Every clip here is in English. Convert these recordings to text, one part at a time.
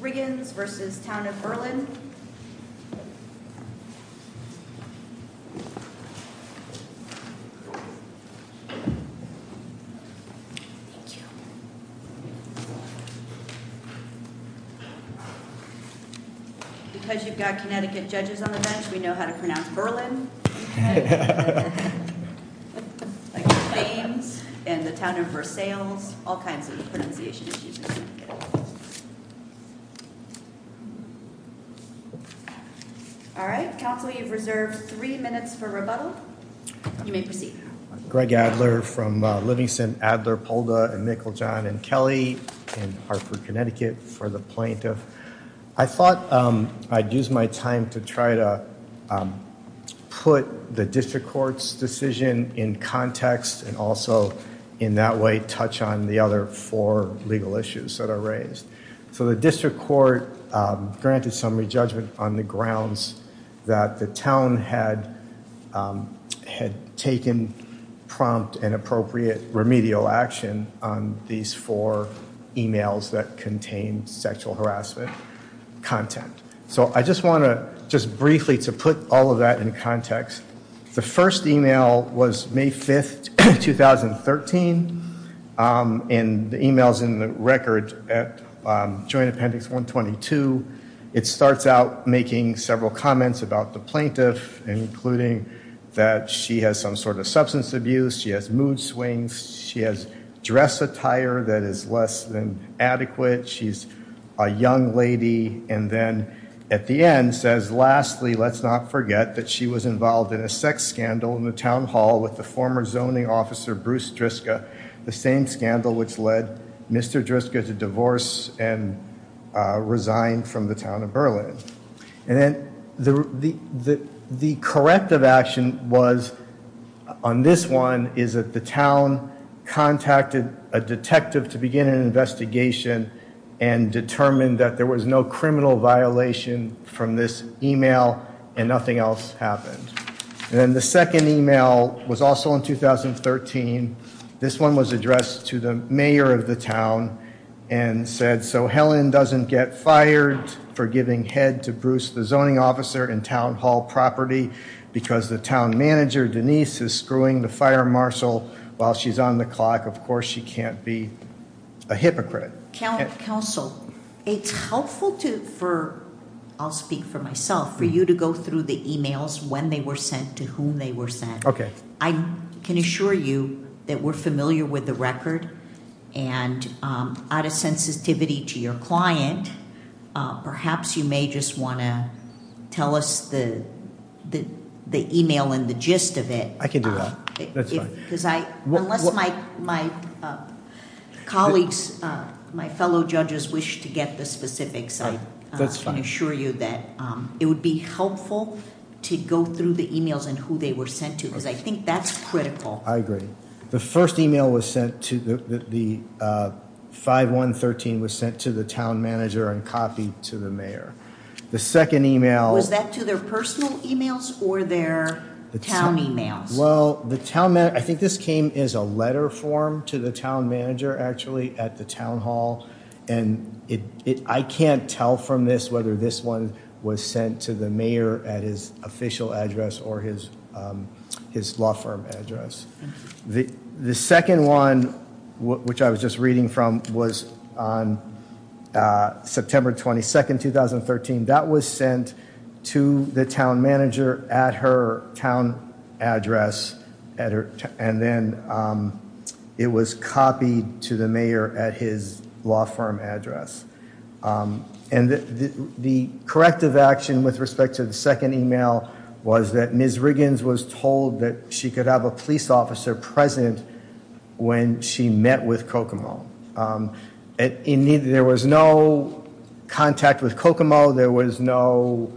Because you've got Connecticut judges on the bench, we know how to pronounce Berlin. And the town of Versailles, all kinds of pronunciation issues. All right, Council, you've reserved three minutes for rebuttal. Greg Adler from Livingston, Adler, Polda, and Mickel, John, and Kelly in Hartford, Connecticut for the plaintiff. I thought I'd use my time to try to put the district court's decision in context and also in that way touch on the other four legal issues that are raised. So the district court granted summary judgment on the grounds that the town had taken prompt and appropriate remedial action on these four emails that contained sexual harassment content. So I just want to just briefly to put all of that in context. The first email was May 5th, 2013, and the email's in the record at Joint Appendix 122. It starts out making several comments about the plaintiff, including that she has some sort of substance abuse. She has mood swings. She has dress attire that is less than adequate. She's a young lady. And then at the end says, lastly, let's not forget that she was involved in a sex scandal in the town hall with the former zoning officer, Bruce Driska, the same scandal which led Mr. Driska to divorce and resign from the town of Berlin. And then the corrective action was on this one is that the town contacted a detective to begin an investigation and determined that there was no criminal violation from this email and nothing else happened. And then the second email was also in 2013. This one was addressed to the mayor of the town and said, so Helen doesn't get fired for giving head to Bruce, the zoning officer, in town hall property because the town manager, Denise, is screwing the fire marshal while she's on the clock. Of course, she can't be a hypocrite. Counsel, it's helpful for, I'll speak for myself, for you to go through the emails, when they were sent, to whom they were sent. I can assure you that we're familiar with the record. And out of sensitivity to your client, perhaps you may just want to tell us the email and the gist of it. I can do that. That's fine. Unless my colleagues, my fellow judges, wish to get the specifics, I can assure you that it would be helpful to go through the emails and who they were sent to because I think that's critical. I agree. The first email was sent to, the 5113 was sent to the town manager and copied to the mayor. The second email- Was that to their personal emails or their town emails? Well, I think this came as a letter form to the town manager, actually, at the town hall. And I can't tell from this whether this one was sent to the mayor at his official address or his law firm address. The second one, which I was just reading from, was on September 22nd, 2013. That was sent to the town manager at her town address. And then it was copied to the mayor at his law firm address. And the corrective action with respect to the second email was that Ms. Riggins was told that she could have a police officer present when she met with Kokomo. Indeed, there was no contact with Kokomo. There was no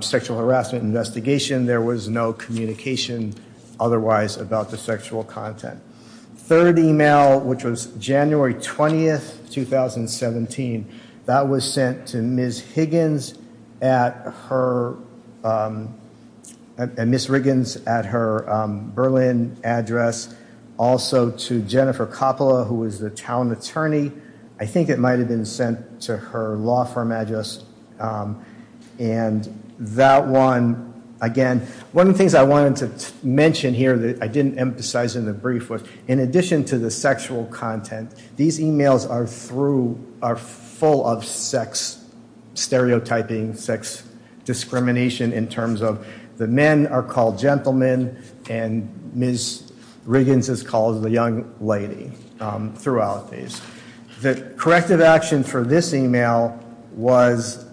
sexual harassment investigation. There was no communication otherwise about the sexual content. Third email, which was January 20th, 2017. That was sent to Ms. Riggins at her Berlin address. Also to Jennifer Coppola, who was the town attorney. I think it might have been sent to her law firm address. And that one, again, one of the things I wanted to mention here that I didn't emphasize in the brief was, in addition to the sexual content, these emails are full of sex stereotyping, sex discrimination in terms of the men are called gentlemen, and Ms. Riggins is called the young lady throughout these. The corrective action for this email was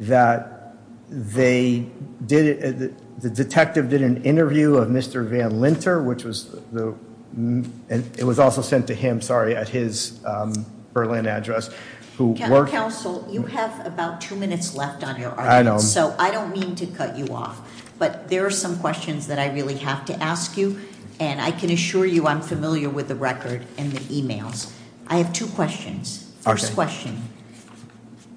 that they did it. The detective did an interview of Mr. Van Linter, which was the and it was also sent to him. Sorry. At his Berlin address. Counsel, you have about two minutes left on your item. So I don't mean to cut you off, but there are some questions that I really have to ask you. And I can assure you I'm familiar with the record and the emails. I have two questions. First question,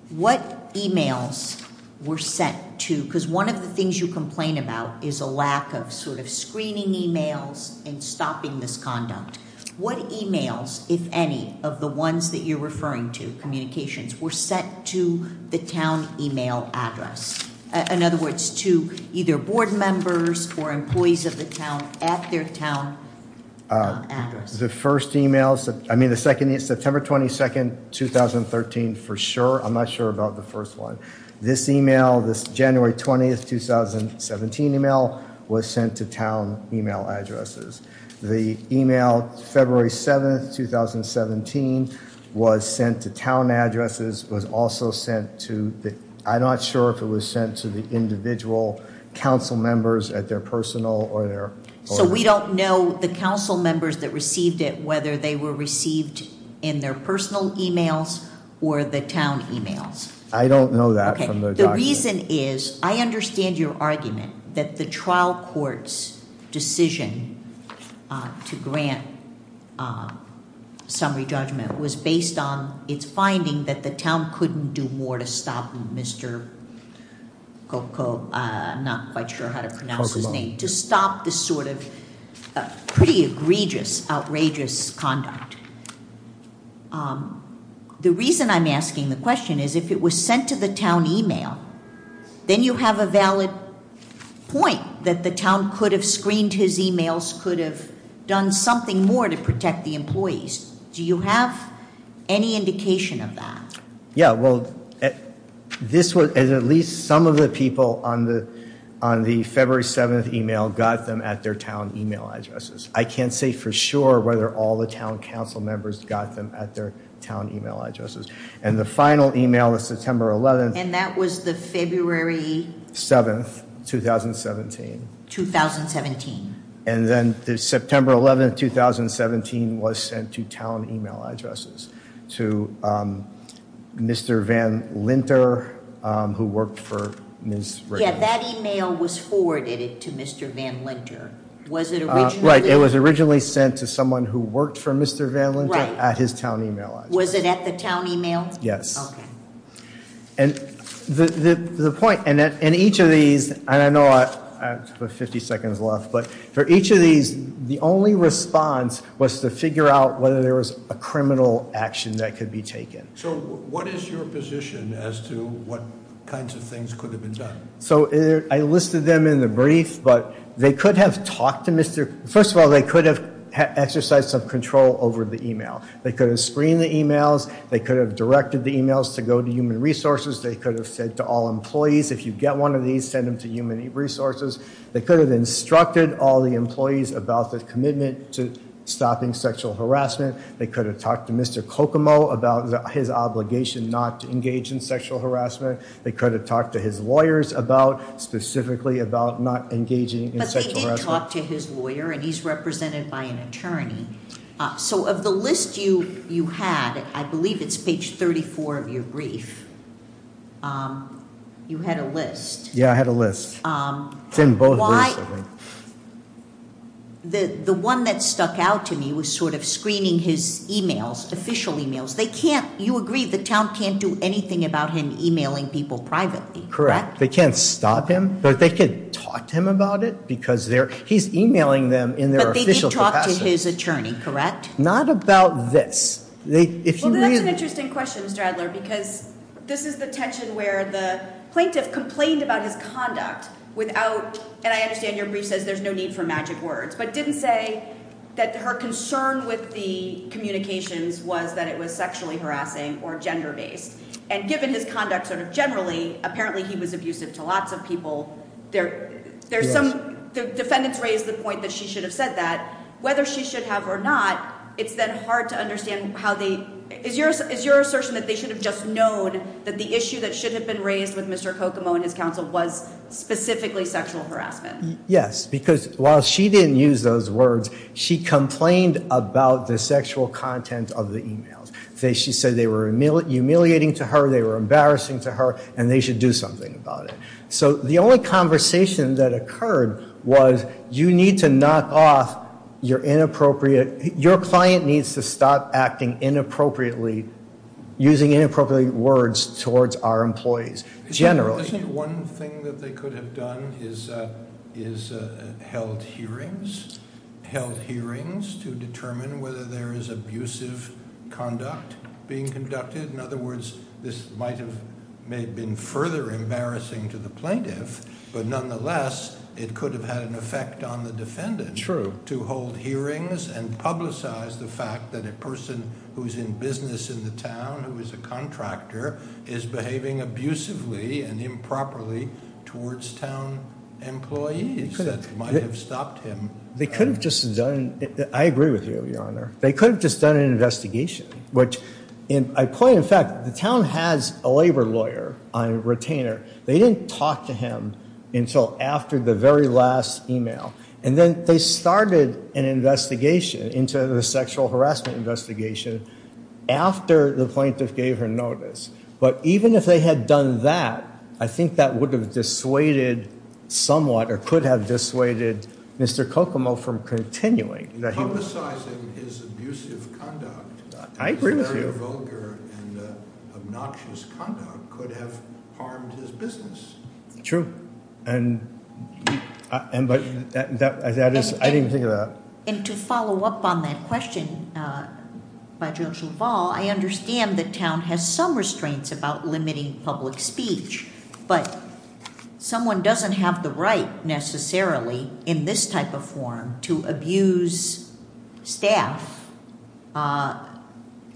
what emails were sent to, because one of the things you complain about is a lack of sort of screening emails and stopping this conduct. What emails, if any, of the ones that you're referring to, communications, were sent to the town email address? In other words, to either board members or employees of the town at their town address. The first email, I mean the second is September 22nd, 2013 for sure. I'm not sure about the first one. This email, this January 20th, 2017 email was sent to town email addresses. The email February 7th, 2017 was sent to town addresses, was also sent to, I'm not sure if it was sent to the individual council members at their personal or their. So we don't know the council members that received it, whether they were received in their personal emails or the town emails. I don't know that. The reason is, I understand your argument that the trial court's decision to grant summary judgment was based on its finding that the town couldn't do more to stop Mr. Coco, I'm not quite sure how to pronounce his name, to stop this sort of pretty egregious, outrageous conduct. The reason I'm asking the question is, if it was sent to the town email, then you have a valid point that the town could have screened his emails, could have done something more to protect the employees. Do you have any indication of that? Yeah, well, this was, at least some of the people on the February 7th email got them at their town email addresses. I can't say for sure whether all the town council members got them at their town email addresses. And the final email was September 11th. And that was the February? 7th, 2017. 2017. And then the September 11th, 2017, was sent to town email addresses, to Mr. Van Linter, who worked for Ms. Rayburn. Yeah, that email was forwarded to Mr. Van Linter. Right, it was originally sent to someone who worked for Mr. Van Linter at his town email address. Was it at the town email? Yes. Okay. And the point, in each of these, and I know I have 50 seconds left, but for each of these, the only response was to figure out whether there was a criminal action that could be taken. So what is your position as to what kinds of things could have been done? So I listed them in the brief, but they could have talked to Mr. First of all, they could have exercised some control over the email. They could have screened the emails. They could have directed the emails to go to human resources. They could have said to all employees, if you get one of these, send them to human resources. They could have instructed all the employees about the commitment to stopping sexual harassment. They could have talked to Mr. Kokomo about his obligation not to engage in sexual harassment. They could have talked to his lawyers about, specifically about not engaging in sexual harassment. But they didn't talk to his lawyer, and he's represented by an attorney. So of the list you had, I believe it's page 34 of your brief, you had a list. Yeah, I had a list. It's in both of those, I think. The one that stuck out to me was sort of screening his emails, official emails. You agree the town can't do anything about him emailing people privately, correct? Correct. They can't stop him, but they could talk to him about it because he's emailing them in their official capacity. But they did talk to his attorney, correct? Not about this. Well, that's an interesting question, Mr. Adler, because this is the tension where the plaintiff complained about his conduct without, and I understand your brief says there's no need for magic words, but didn't say that her concern with the communications was that it was sexually harassing or gender-based. And given his conduct sort of generally, apparently he was abusive to lots of people. There's some, the defendants raised the point that she should have said that. Whether she should have or not, it's then hard to understand how they, is your assertion that they should have just known that the issue that should have been raised with Mr. Kokomo and his counsel was specifically sexual harassment? Yes, because while she didn't use those words, she complained about the sexual content of the emails. She said they were humiliating to her, they were embarrassing to her, and they should do something about it. So the only conversation that occurred was you need to knock off your inappropriate, your client needs to stop acting inappropriately, using inappropriate words towards our employees, generally. Isn't one thing that they could have done is held hearings? Held hearings to determine whether there is abusive conduct being conducted? In other words, this might have, may have been further embarrassing to the plaintiff, but nonetheless it could have had an effect on the defendant. True. And publicize the fact that a person who's in business in the town, who is a contractor, is behaving abusively and improperly towards town employees that might have stopped him. They could have just done, I agree with you, Your Honor. They could have just done an investigation, which I point, in fact, the town has a labor lawyer, a retainer. They didn't talk to him until after the very last email. And then they started an investigation into the sexual harassment investigation after the plaintiff gave her notice. But even if they had done that, I think that would have dissuaded somewhat, or could have dissuaded Mr. Kokomo from continuing. Publicizing his abusive conduct. I agree with you. Very vulgar and obnoxious conduct could have harmed his business. True. And that is, I didn't think of that. And to follow up on that question by Judge LaValle, I understand the town has some restraints about limiting public speech, but someone doesn't have the right necessarily in this type of forum to abuse staff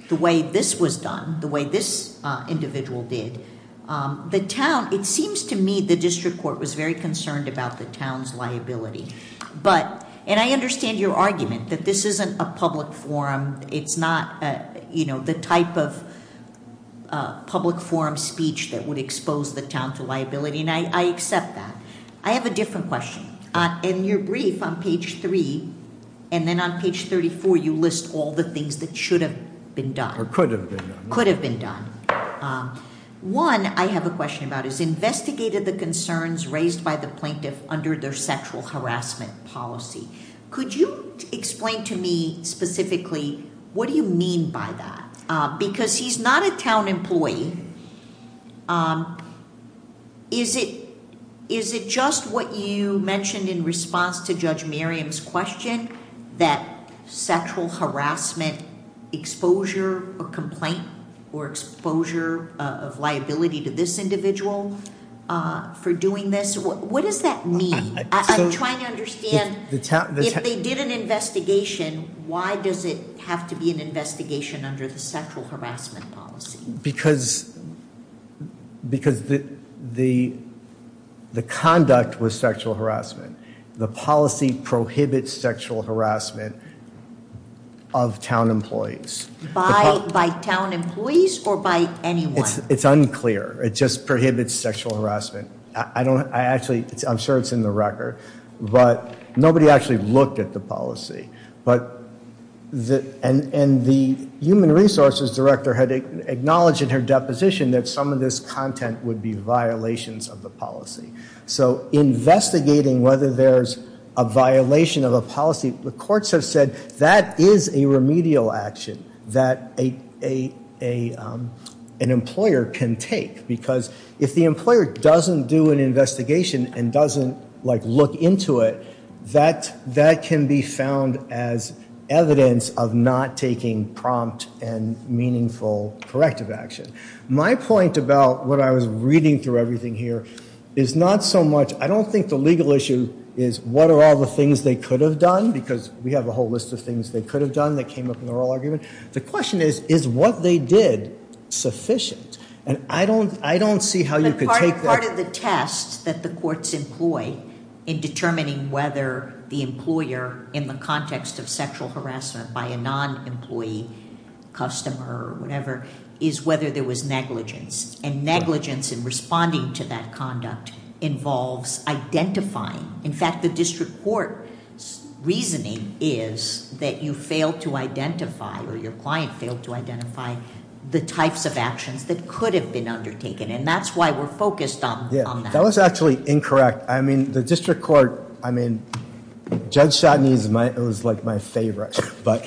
the way this was done, the way this individual did. The town, it seems to me the district court was very concerned about the town's liability. And I understand your argument that this isn't a public forum. It's not the type of public forum speech that would expose the town to liability, and I accept that. I have a different question. In your brief on page three, and then on page 34, you list all the things that should have been done. Or could have been done. One, I have a question about is investigated the concerns raised by the plaintiff under their sexual harassment policy. Could you explain to me specifically what do you mean by that? Because he's not a town employee. Is it just what you mentioned in response to Judge Miriam's question? That sexual harassment exposure or complaint or exposure of liability to this individual for doing this? What does that mean? I'm trying to understand if they did an investigation, why does it have to be an investigation under the sexual harassment policy? Because the conduct was sexual harassment. The policy prohibits sexual harassment of town employees. By town employees or by anyone? It's unclear. It just prohibits sexual harassment. I'm sure it's in the record, but nobody actually looked at the policy. And the human resources director had acknowledged in her deposition that some of this content would be violations of the policy. So investigating whether there's a violation of a policy, the courts have said that is a remedial action that an employer can take. Because if the employer doesn't do an investigation and doesn't look into it, that can be found as evidence of not taking prompt and meaningful corrective action. My point about what I was reading through everything here is not so much, I don't think the legal issue is what are all the things they could have done, because we have a whole list of things they could have done that came up in the oral argument. The question is, is what they did sufficient? And I don't see how you could take that- But part of the test that the courts employ in determining whether the employer, in the context of sexual harassment by a non-employee, customer, or whatever, is whether there was negligence. And negligence in responding to that conduct involves identifying. In fact, the district court's reasoning is that you failed to identify or your client failed to identify the types of actions that could have been undertaken. And that's why we're focused on that. That was actually incorrect. I mean, the district court, I mean, Judge Chotny's was like my favorite. But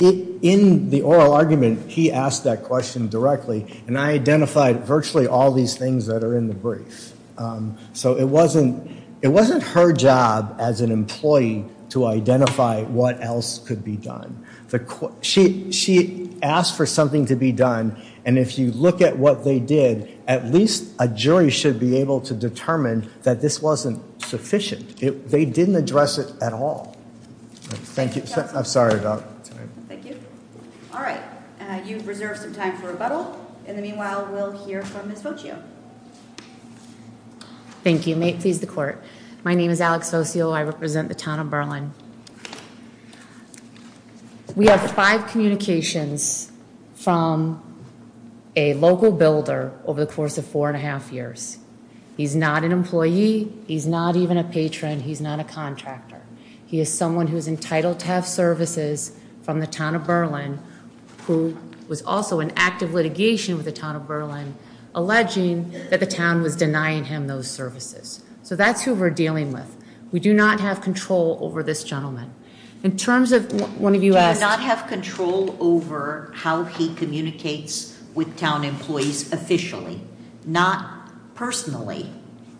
in the oral argument, he asked that question directly, and I identified virtually all these things that are in the brief. So it wasn't her job as an employee to identify what else could be done. She asked for something to be done. And if you look at what they did, at least a jury should be able to determine that this wasn't sufficient. They didn't address it at all. Thank you. I'm sorry about that. Thank you. All right. You've reserved some time for rebuttal. In the meanwhile, we'll hear from Ms. Foccio. Thank you. May it please the court. My name is Alex Foccio. I represent the town of Berlin. We have five communications from a local builder over the course of four and a half years. He's not an employee. He's not even a patron. He's not a contractor. He is someone who is entitled to have services from the town of Berlin, who was also in active litigation with the town of Berlin, alleging that the town was denying him those services. So that's who we're dealing with. We do not have control over this gentleman. In terms of one of you asked. I do not have control over how he communicates with town employees officially, not personally.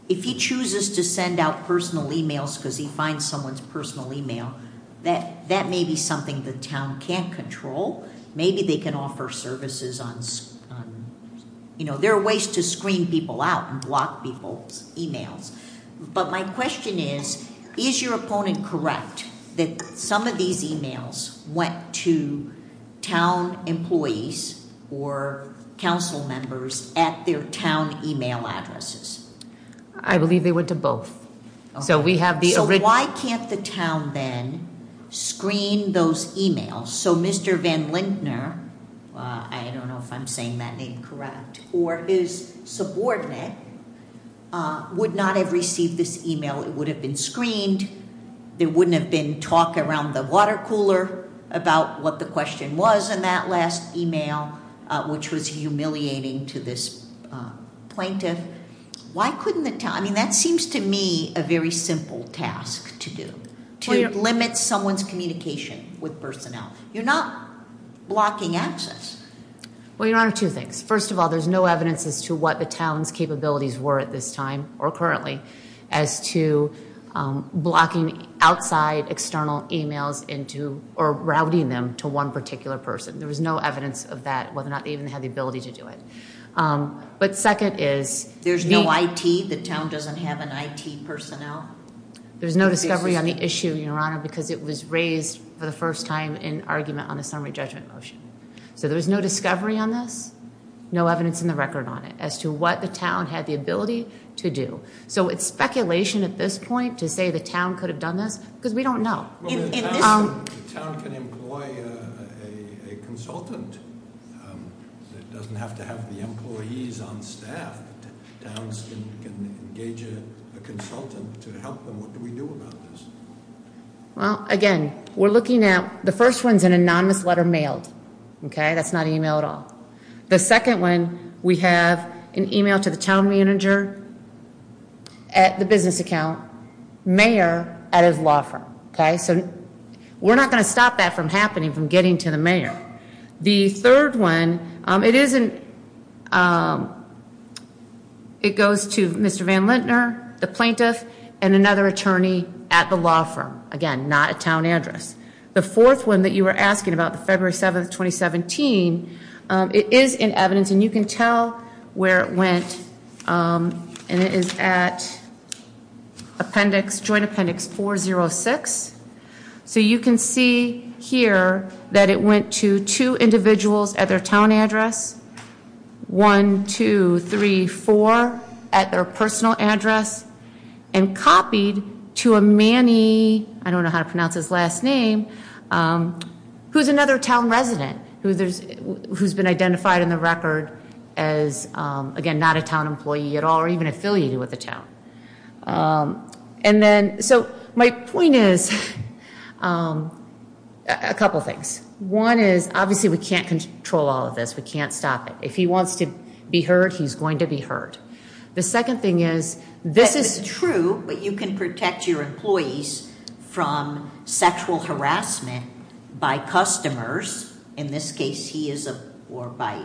If he chooses to send out personal e-mails because he finds someone's personal e-mail, that may be something the town can't control. Maybe they can offer services on, you know, there are ways to screen people out and block people's e-mails. But my question is, is your opponent correct that some of these e-mails went to town employees or council members at their town e-mail addresses? I believe they went to both. So we have the original. So why can't the town then screen those e-mails? So Mr. Van Lintner, I don't know if I'm saying that name correct, or his subordinate would not have received this e-mail. It would have been screened. There wouldn't have been talk around the water cooler about what the question was in that last e-mail, which was humiliating to this plaintiff. I mean, that seems to me a very simple task to do, to limit someone's communication with personnel. You're not blocking access. Well, Your Honor, two things. First of all, there's no evidence as to what the town's capabilities were at this time or currently as to blocking outside external e-mails into or routing them to one particular person. There was no evidence of that, whether or not they even had the ability to do it. But second is- There's no IT? The town doesn't have an IT personnel? There's no discovery on the issue, Your Honor, because it was raised for the first time in argument on a summary judgment motion. So there was no discovery on this, no evidence in the record on it as to what the town had the ability to do. So it's speculation at this point to say the town could have done this, because we don't know. The town can employ a consultant. It doesn't have to have the employees on staff. The town can engage a consultant to help them. What do we do about this? Well, again, we're looking at, the first one's an anonymous letter mailed. Okay? That's not an e-mail at all. The second one, we have an e-mail to the town manager at the business account, mayor at his law firm. Okay? So we're not going to stop that from happening, from getting to the mayor. The third one, it goes to Mr. Van Lintner, the plaintiff, and another attorney at the law firm. Again, not a town address. The fourth one that you were asking about, February 7th, 2017, it is in evidence, and you can tell where it went. And it is at appendix, joint appendix 406. So you can see here that it went to two individuals at their town address. One, two, three, four at their personal address. And copied to a Manny, I don't know how to pronounce his last name, who's another town resident, who's been identified in the record as, again, not a town employee at all, or even affiliated with the town. So my point is a couple things. One is, obviously, we can't control all of this. We can't stop it. If he wants to be heard, he's going to be heard. The second thing is, this is- True, but you can protect your employees from sexual harassment by customers. In this case, he is, or by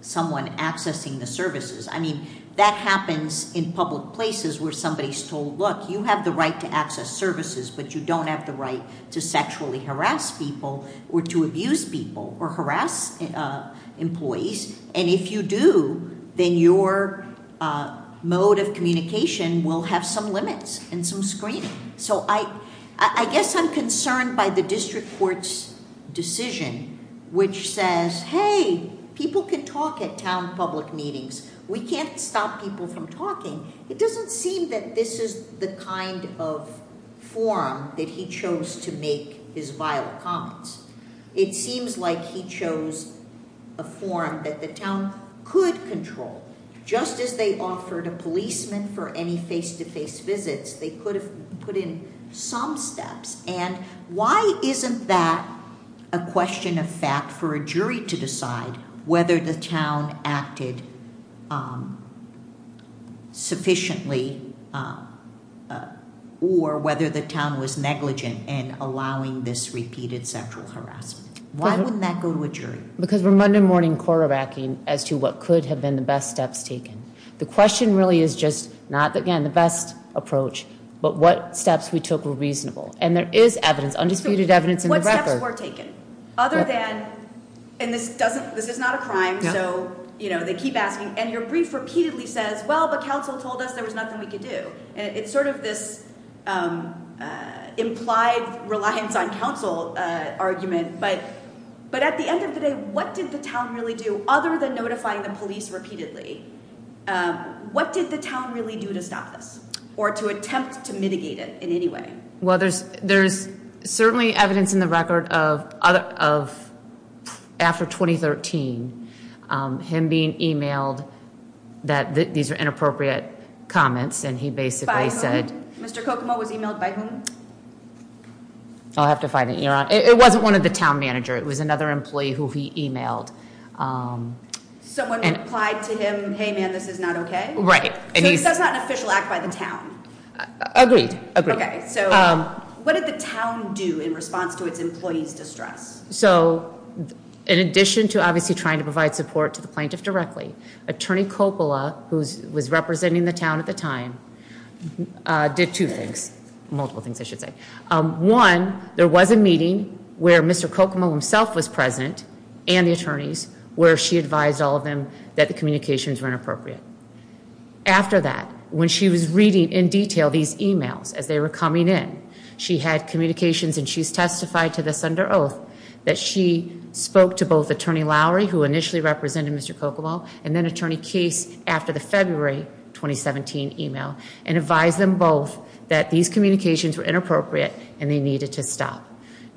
someone accessing the services. I mean, that happens in public places where somebody's told, look, you have the right to access services, but you don't have the right to sexually harass people or to abuse people or harass employees. And if you do, then your mode of communication will have some limits and some screening. So I guess I'm concerned by the district court's decision, which says, hey, people can talk at town public meetings. We can't stop people from talking. It doesn't seem that this is the kind of forum that he chose to make his vile comments. It seems like he chose a forum that the town could control. Just as they offered a policeman for any face-to-face visits, they could have put in some steps. And why isn't that a question of fact for a jury to decide whether the town acted sufficiently or whether the town was negligent in allowing this repeated sexual harassment? Why wouldn't that go to a jury? Because we're Monday morning quarterbacking as to what could have been the best steps taken. The question really is just not, again, the best approach, but what steps we took were reasonable. And there is evidence, undisputed evidence in the record- What steps were taken other than- and this is not a crime, so they keep asking. And your brief repeatedly says, well, the council told us there was nothing we could do. It's sort of this implied reliance on council argument. But at the end of the day, what did the town really do other than notifying the police repeatedly? What did the town really do to stop this or to attempt to mitigate it in any way? Well, there's certainly evidence in the record of after 2013, him being emailed that these are inappropriate comments. And he basically said- By whom? Mr. Kokomo was emailed by whom? I'll have to find it. It wasn't one of the town manager. It was another employee who he emailed. Someone replied to him, hey, man, this is not okay? Right. So this is not an official act by the town? Agreed. Okay. So what did the town do in response to its employees' distress? So in addition to obviously trying to provide support to the plaintiff directly, Attorney Coppola, who was representing the town at the time, did two things. Multiple things, I should say. One, there was a meeting where Mr. Kokomo himself was present and the attorneys, where she advised all of them that the communications were inappropriate. After that, when she was reading in detail these emails as they were coming in, she had communications and she's testified to this under oath that she spoke to both Attorney Lowry, who initially represented Mr. Kokomo, and then Attorney Case after the February 2017 email and advised them both that these communications were inappropriate and they needed to stop.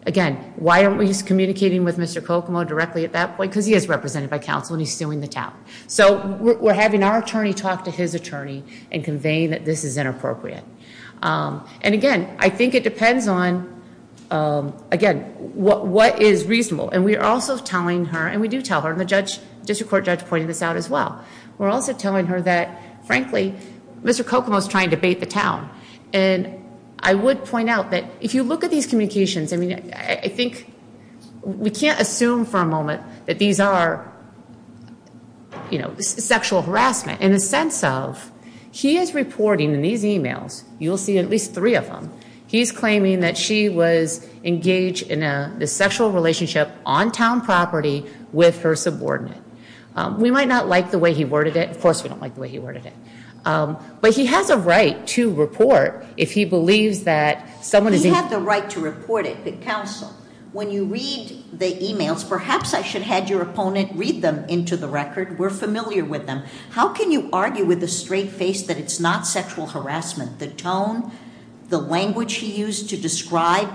Again, why aren't we just communicating with Mr. Kokomo directly at that point? Because he is represented by counsel and he's suing the town. So we're having our attorney talk to his attorney and conveying that this is inappropriate. And again, I think it depends on, again, what is reasonable. And we are also telling her, and we do tell her, and the district court judge pointed this out as well, we're also telling her that, frankly, Mr. Kokomo is trying to bait the town. And I would point out that if you look at these communications, I mean, I think, we can't assume for a moment that these are sexual harassment in the sense of he is reporting in these emails, you'll see at least three of them, he's claiming that she was engaged in a sexual relationship on town property with her subordinate. We might not like the way he worded it. Of course, we don't like the way he worded it. But he has a right to report if he believes that someone is... You have the right to report it to counsel. When you read the emails, perhaps I should have your opponent read them into the record. We're familiar with them. How can you argue with a straight face that it's not sexual harassment? The tone, the language he used to describe,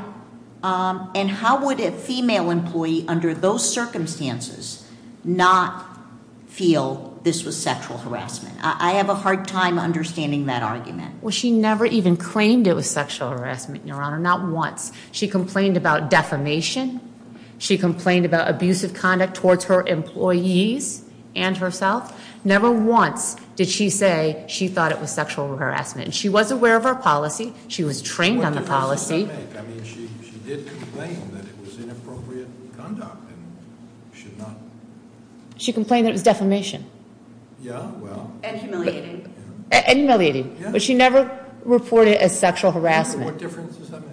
and how would a female employee under those circumstances not feel this was sexual harassment? I have a hard time understanding that argument. Well, she never even claimed it was sexual harassment, Your Honor, not once. She complained about defamation. She complained about abusive conduct towards her employees and herself. Never once did she say she thought it was sexual harassment. She was aware of her policy. She was trained on the policy. I mean, she did claim that it was inappropriate conduct and should not... She complained that it was defamation. Yeah, well... And humiliating. And humiliating. But she never reported it as sexual harassment. What difference does that make?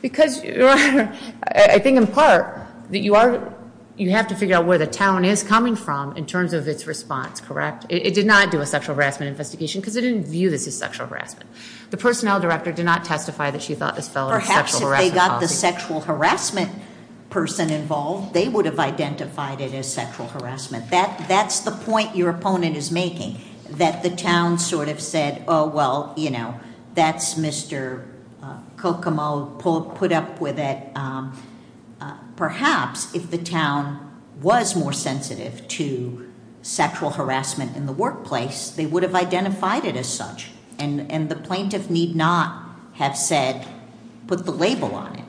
Because, Your Honor, I think in part that you have to figure out where the town is coming from in terms of its response, correct? It did not do a sexual harassment investigation because it didn't view this as sexual harassment. The personnel director did not testify that she thought this fell under sexual harassment policy. Perhaps if they got the sexual harassment person involved, they would have identified it as sexual harassment. That's the point your opponent is making, that the town sort of said, Oh, well, you know, that's Mr. Kokomo put up with it. Perhaps if the town was more sensitive to sexual harassment in the workplace, they would have identified it as such. And the plaintiff need not have said, put the label on it.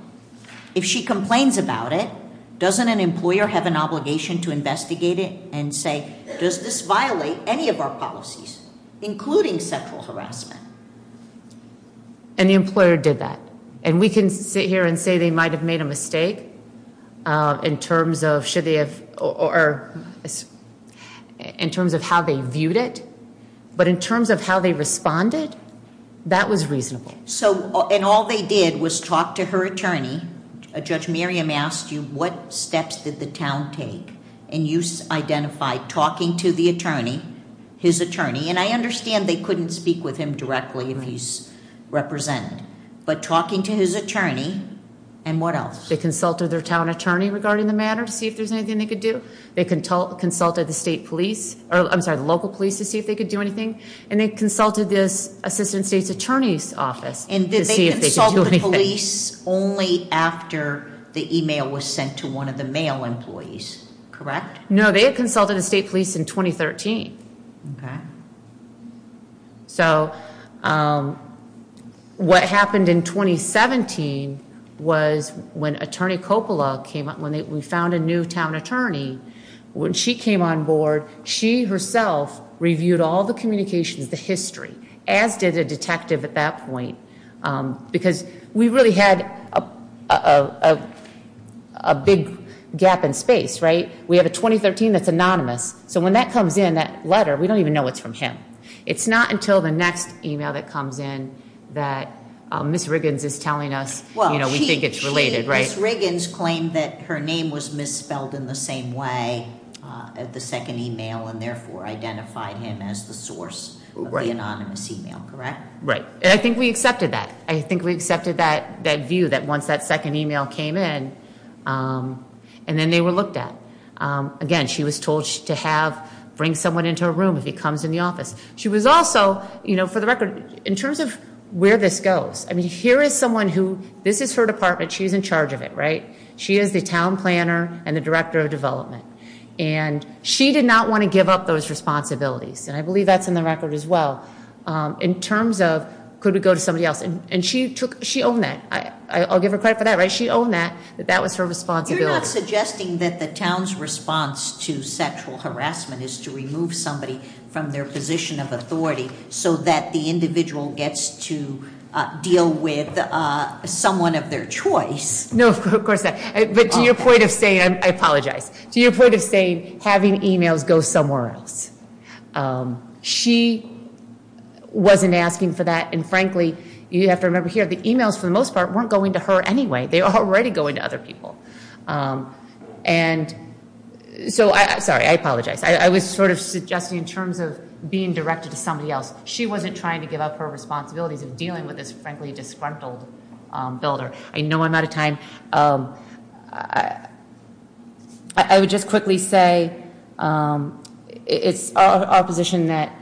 If she complains about it, doesn't an employer have an obligation to investigate it and say, Does this violate any of our policies, including sexual harassment? And the employer did that. And we can sit here and say they might have made a mistake in terms of how they viewed it. But in terms of how they responded, that was reasonable. And all they did was talk to her attorney. Judge Miriam asked you, what steps did the town take? And you identified talking to the attorney, his attorney. And I understand they couldn't speak with him directly if he's represented. But talking to his attorney, and what else? They consulted their town attorney regarding the matter to see if there's anything they could do. They consulted the state police, I'm sorry, the local police to see if they could do anything. And they consulted this assistant state's attorney's office to see if they could do anything. And did they consult the police only after the e-mail was sent to one of the mail employees, correct? No, they had consulted the state police in 2013. So what happened in 2017 was when Attorney Coppola came up, when we found a new town attorney, when she came on board, she herself reviewed all the communications, the history, as did a detective at that point. Because we really had a big gap in space, right? We have a 2013 that's anonymous. So when that comes in, that letter, we don't even know it's from him. It's not until the next e-mail that comes in that Ms. Riggins is telling us, you know, we think it's related, right? Ms. Riggins claimed that her name was misspelled in the same way at the second e-mail and therefore identified him as the source of the anonymous e-mail, correct? Right. And I think we accepted that. I think we accepted that view that once that second e-mail came in, and then they were looked at. Again, she was told to have, bring someone into her room if he comes in the office. She was also, you know, for the record, in terms of where this goes, I mean, here is someone who, this is her department, she's in charge of it, right? She is the town planner and the director of development. And she did not want to give up those responsibilities, and I believe that's in the record as well, in terms of could we go to somebody else? And she took, she owned that. I'll give her credit for that, right? She owned that, that that was her responsibility. You're not suggesting that the town's response to sexual harassment is to remove somebody from their position of authority so that the individual gets to deal with someone of their choice. No, of course not. But to your point of saying, I apologize. To your point of saying having e-mails go somewhere else. She wasn't asking for that, and frankly, you have to remember here, the e-mails for the most part weren't going to her anyway. They were already going to other people. And so, sorry, I apologize. I was sort of suggesting in terms of being directed to somebody else. She wasn't trying to give up her responsibilities of dealing with this frankly disgruntled builder. I know I'm out of time. I would just quickly say it's our position that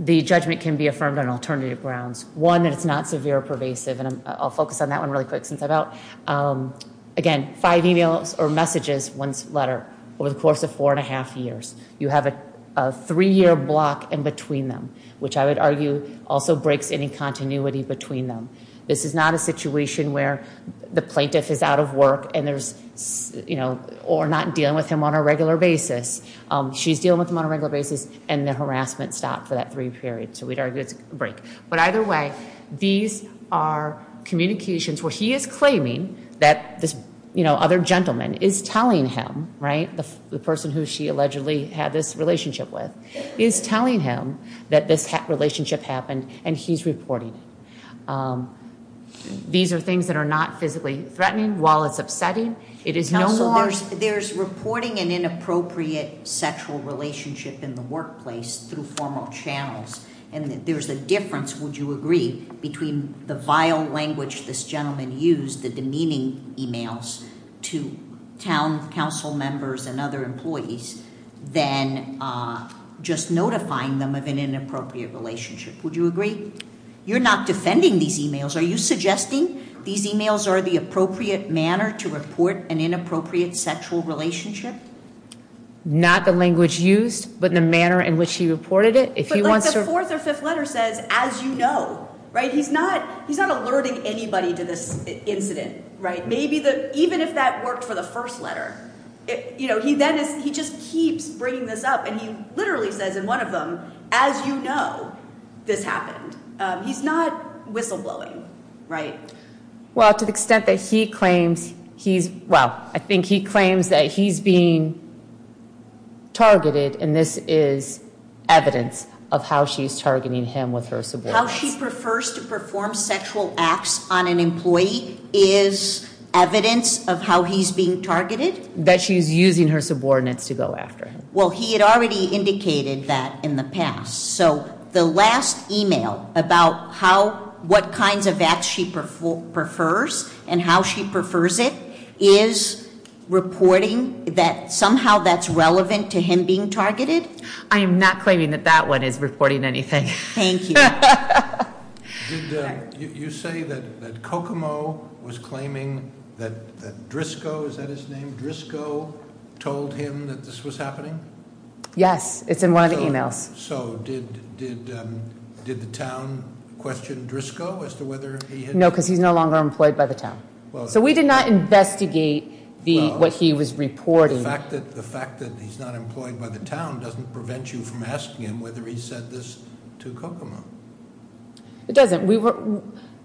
the judgment can be affirmed on alternative grounds. One, that it's not severe or pervasive, and I'll focus on that one really quick since I'm out. Again, five e-mails or messages, one letter, over the course of four and a half years. You have a three-year block in between them, which I would argue also breaks any continuity between them. This is not a situation where the plaintiff is out of work or not dealing with him on a regular basis. She's dealing with him on a regular basis, and the harassment stopped for that three periods. So we'd argue it's a break. But either way, these are communications where he is claiming that this other gentleman is telling him, right, the person who she allegedly had this relationship with, is telling him that this relationship happened and he's reporting it. These are things that are not physically threatening. While it's upsetting, it is no more- Also, there's reporting an inappropriate sexual relationship in the workplace through formal channels. And there's a difference, would you agree, between the vile language this gentleman used, the demeaning e-mails to town council members and other employees, than just notifying them of an inappropriate relationship. Would you agree? You're not defending these e-mails. Are you suggesting these e-mails are the appropriate manner to report an inappropriate sexual relationship? Not the language used, but the manner in which he reported it. But the fourth or fifth letter says, as you know, right? He's not alerting anybody to this incident, right? Even if that worked for the first letter. He just keeps bringing this up, and he literally says in one of them, as you know, this happened. He's not whistleblowing, right? Well, to the extent that he claims he's- Well, I think he claims that he's being targeted, and this is evidence of how she's targeting him with her subordinates. How she prefers to perform sexual acts on an employee is evidence of how he's being targeted? That she's using her subordinates to go after him. Well, he had already indicated that in the past. So the last e-mail about what kinds of acts she prefers and how she prefers it is reporting that somehow that's relevant to him being targeted? I am not claiming that that one is reporting anything. Thank you. Did you say that Kokomo was claiming that Driscoll, is that his name? Driscoll told him that this was happening? Yes, it's in one of the e-mails. So did the town question Driscoll as to whether he had- No, because he's no longer employed by the town. So we did not investigate what he was reporting. The fact that he's not employed by the town doesn't prevent you from asking him whether he said this to Kokomo. It doesn't.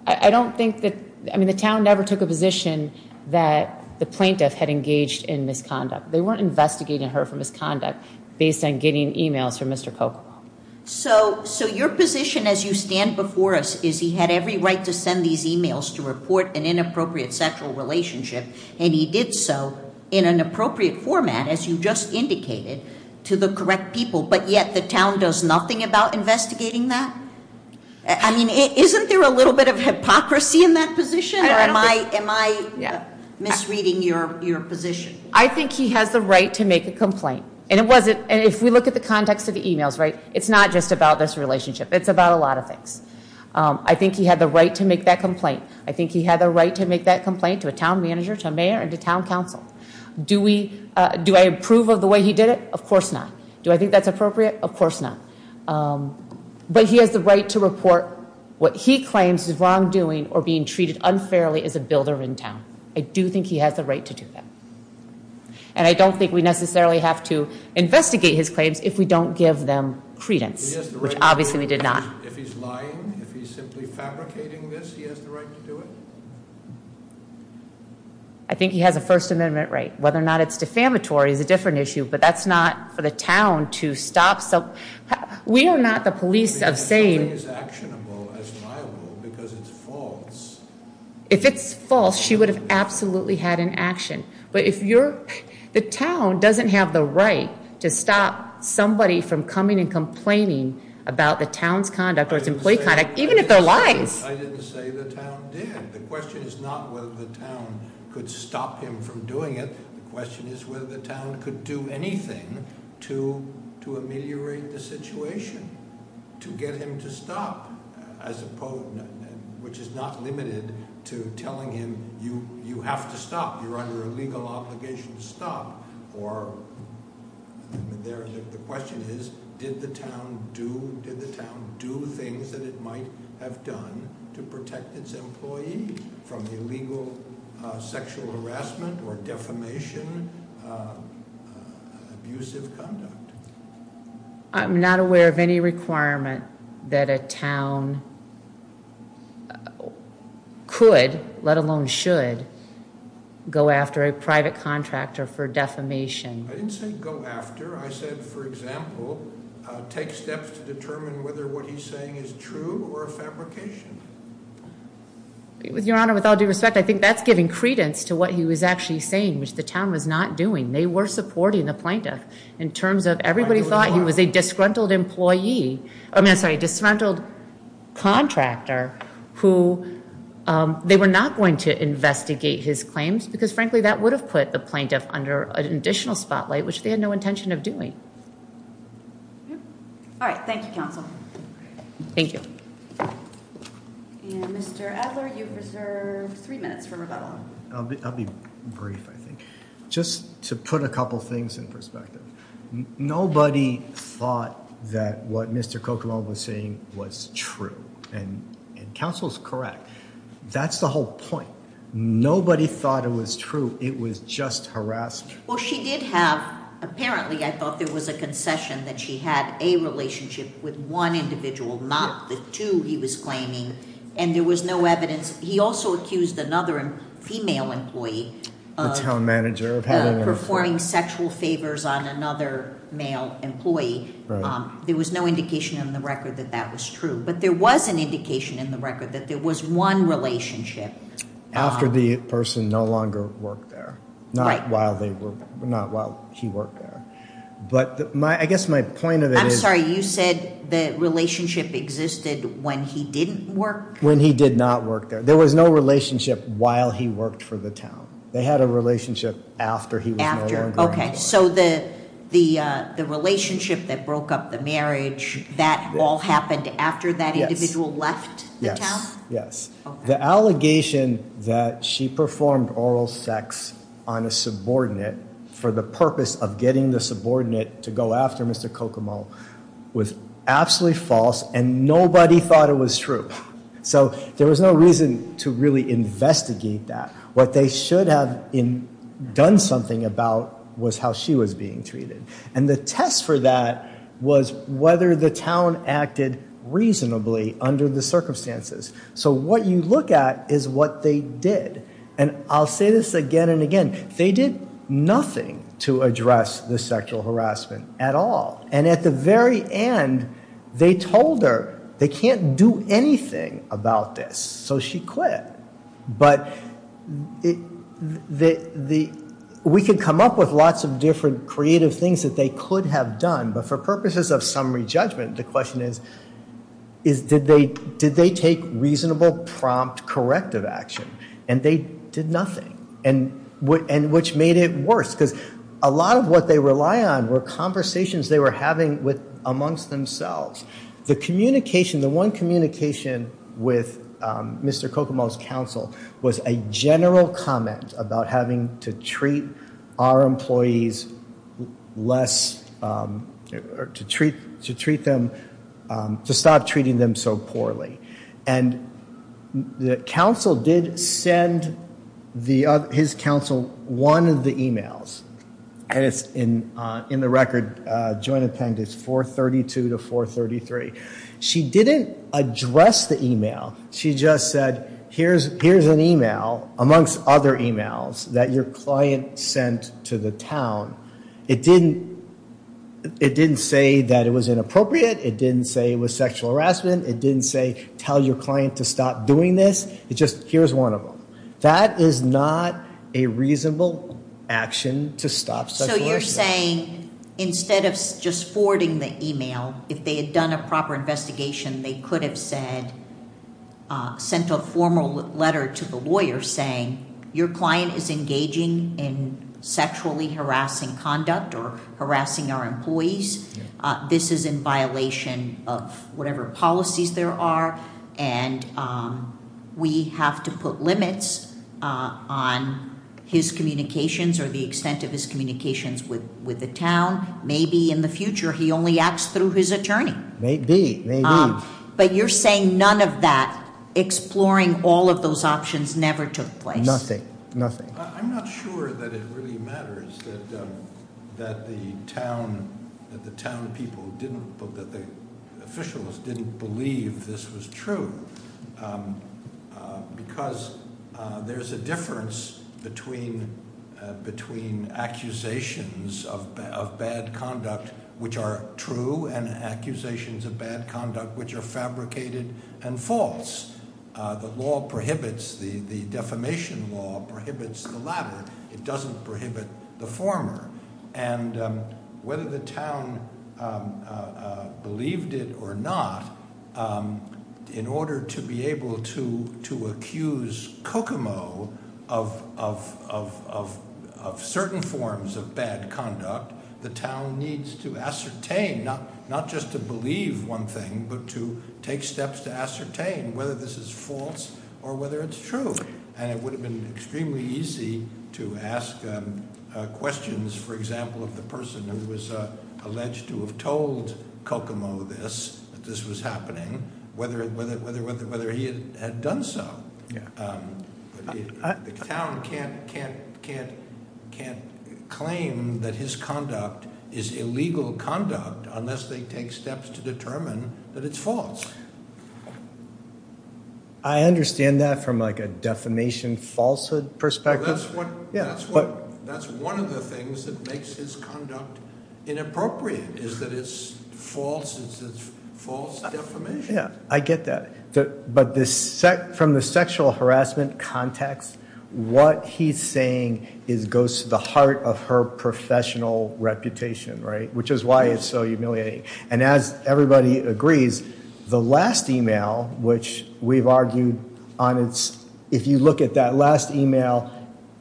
I don't think that, I mean, the town never took a position that the plaintiff had engaged in misconduct. They weren't investigating her for misconduct based on getting e-mails from Mr. Kokomo. So your position as you stand before us is he had every right to send these e-mails to report an inappropriate sexual relationship, and he did so in an appropriate format, as you just indicated, to the correct people, but yet the town does nothing about investigating that? I mean, isn't there a little bit of hypocrisy in that position, or am I misreading your position? I think he has the right to make a complaint, and if we look at the context of the e-mails, right, it's not just about this relationship. It's about a lot of things. I think he had the right to make that complaint. I think he had the right to make that complaint to a town manager, to a mayor, and to town council. Do I approve of the way he did it? Of course not. Do I think that's appropriate? Of course not. But he has the right to report what he claims is wrongdoing or being treated unfairly as a builder in town. I do think he has the right to do that. And I don't think we necessarily have to investigate his claims if we don't give them credence, which obviously we did not. If he's lying, if he's simply fabricating this, he has the right to do it? I think he has a First Amendment right. Whether or not it's defamatory is a different issue, but that's not for the town to stop. We are not the police of saying that something is actionable as liable because it's false. If it's false, she would have absolutely had an action. But if you're, the town doesn't have the right to stop somebody from coming and complaining about the town's conduct or its employee conduct, even if they're lying. I didn't say the town did. The question is not whether the town could stop him from doing it. The question is whether the town could do anything to ameliorate the situation, to get him to stop, which is not limited to telling him, you have to stop. You're under a legal obligation to stop. Or the question is, did the town do things that it might have done to protect its employee from illegal sexual harassment or defamation, abusive conduct? I'm not aware of any requirement that a town could, let alone should, go after a private contractor for defamation. I didn't say go after. I said, for example, take steps to determine whether what he's saying is true or a fabrication. Your Honor, with all due respect, I think that's giving credence to what he was actually saying, which the town was not doing. They were supporting the plaintiff in terms of everybody thought he was a disgruntled employee. I'm sorry, disgruntled contractor who they were not going to investigate his claims because, frankly, that would have put the plaintiff under an additional spotlight, which they had no intention of doing. All right. Thank you, counsel. Thank you. Mr. Edler, you've reserved three minutes for rebuttal. I'll be brief, I think. Just to put a couple things in perspective. Nobody thought that what Mr. Kokomo was saying was true, and counsel's correct. That's the whole point. Nobody thought it was true. It was just harassment. Well, she did have, apparently, I thought there was a concession that she had a relationship with one individual, not the two he was claiming, and there was no evidence. He also accused another female employee. The town manager of having an employee. Performing sexual favors on another male employee. There was no indication in the record that that was true. But there was an indication in the record that there was one relationship. After the person no longer worked there, not while he worked there. But I guess my point of it is. I'm sorry, you said the relationship existed when he didn't work? When he did not work there. There was no relationship while he worked for the town. They had a relationship after he was no longer there. So the relationship that broke up the marriage, that all happened after that individual left the town? Yes. The allegation that she performed oral sex on a subordinate for the purpose of getting the subordinate to go after Mr. Kokomo was absolutely false. And nobody thought it was true. So there was no reason to really investigate that. What they should have done something about was how she was being treated. And the test for that was whether the town acted reasonably under the circumstances. So what you look at is what they did. And I'll say this again and again. They did nothing to address the sexual harassment at all. And at the very end, they told her they can't do anything about this. So she quit. But we could come up with lots of different creative things that they could have done. But for purposes of summary judgment, the question is, did they take reasonable, prompt, corrective action? And they did nothing. And which made it worse. Because a lot of what they rely on were conversations they were having amongst themselves. The communication, the one communication with Mr. Kokomo's counsel was a general comment about having to treat our employees less, to treat them, to stop treating them so poorly. And his counsel did send one of the e-mails. And it's in the record, joint appendix 432 to 433. She didn't address the e-mail. She just said, here's an e-mail, amongst other e-mails, that your client sent to the town. It didn't say that it was inappropriate. It didn't say it was sexual harassment. It didn't say, tell your client to stop doing this. It just, here's one of them. That is not a reasonable action to stop sexual harassment. So you're saying, instead of just forwarding the e-mail, if they had done a proper investigation, they could have sent a formal letter to the lawyer saying, your client is engaging in sexually harassing conduct or harassing our employees. This is in violation of whatever policies there are. And we have to put limits on his communications or the extent of his communications with the town. Maybe in the future he only acts through his attorney. Maybe, maybe. But you're saying none of that, exploring all of those options, never took place. Nothing, nothing. I'm not sure that it really matters that the town, that the town people didn't, that the officials didn't believe this was true. Because there's a difference between, between accusations of bad conduct which are true and accusations of bad conduct which are fabricated and false. The law prohibits, the defamation law prohibits the latter. It doesn't prohibit the former. And whether the town believed it or not, in order to be able to accuse Kokomo of certain forms of bad conduct, the town needs to ascertain, not just to believe one thing, but to take steps to ascertain whether this is false or whether it's true. And it would have been extremely easy to ask questions, for example, of the person who was alleged to have told Kokomo this, that this was happening, whether he had done so. The town can't, can't, can't, can't claim that his conduct is illegal conduct unless they take steps to determine that it's false. I understand that from like a defamation falsehood perspective. That's what, that's what, that's one of the things that makes his conduct inappropriate, is that it's false, it's false defamation. Yeah, I get that. But this, from the sexual harassment context, what he's saying is goes to the heart of her professional reputation, right? Which is why it's so humiliating. And as everybody agrees, the last email, which we've argued on its, if you look at that last email,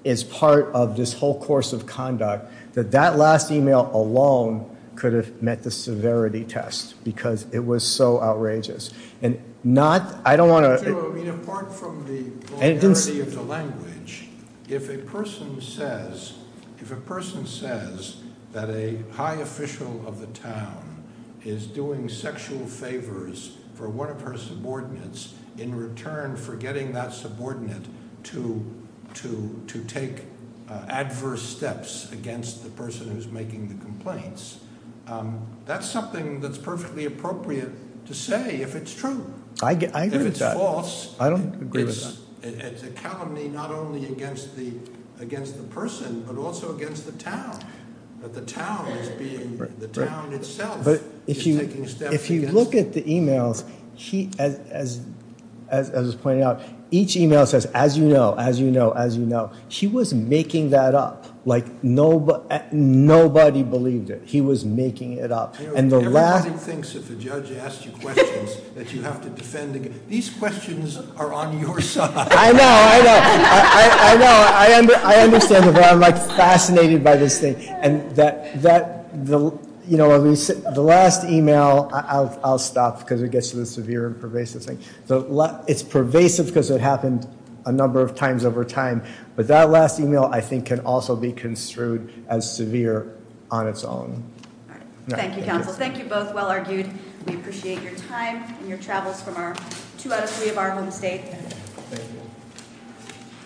is part of this whole course of conduct, that that last email alone could have met the severity test because it was so outrageous. And not, I don't want to- Apart from the vulgarity of the language, if a person says, if a person says that a high official of the town is doing sexual favors for one of her subordinates in return for getting that subordinate to take adverse steps against the person who's making the complaints, that's something that's perfectly appropriate to say if it's true. I agree with that. If it's false- I don't agree with that. It's a calumny not only against the, against the person, but also against the town. That the town is being, the town itself is taking steps against- But if you, if you look at the emails, he, as, as, as I was pointing out, each email says, as you know, as you know, as you know. He was making that up, like nobody, nobody believed it. He was making it up. And the last- Everybody thinks if a judge asks you questions that you have to defend against. These questions are on your side. I know, I know. I, I, I know. I understand, but I'm like fascinated by this thing. And that, that, the, you know, the last email, I'll stop because it gets to the severe and pervasive thing. It's pervasive because it happened a number of times over time. But that last email, I think, can also be construed as severe on its own. Thank you, counsel. Thank you both. Well argued. We appreciate your time and your travels from our two out of three of our home state.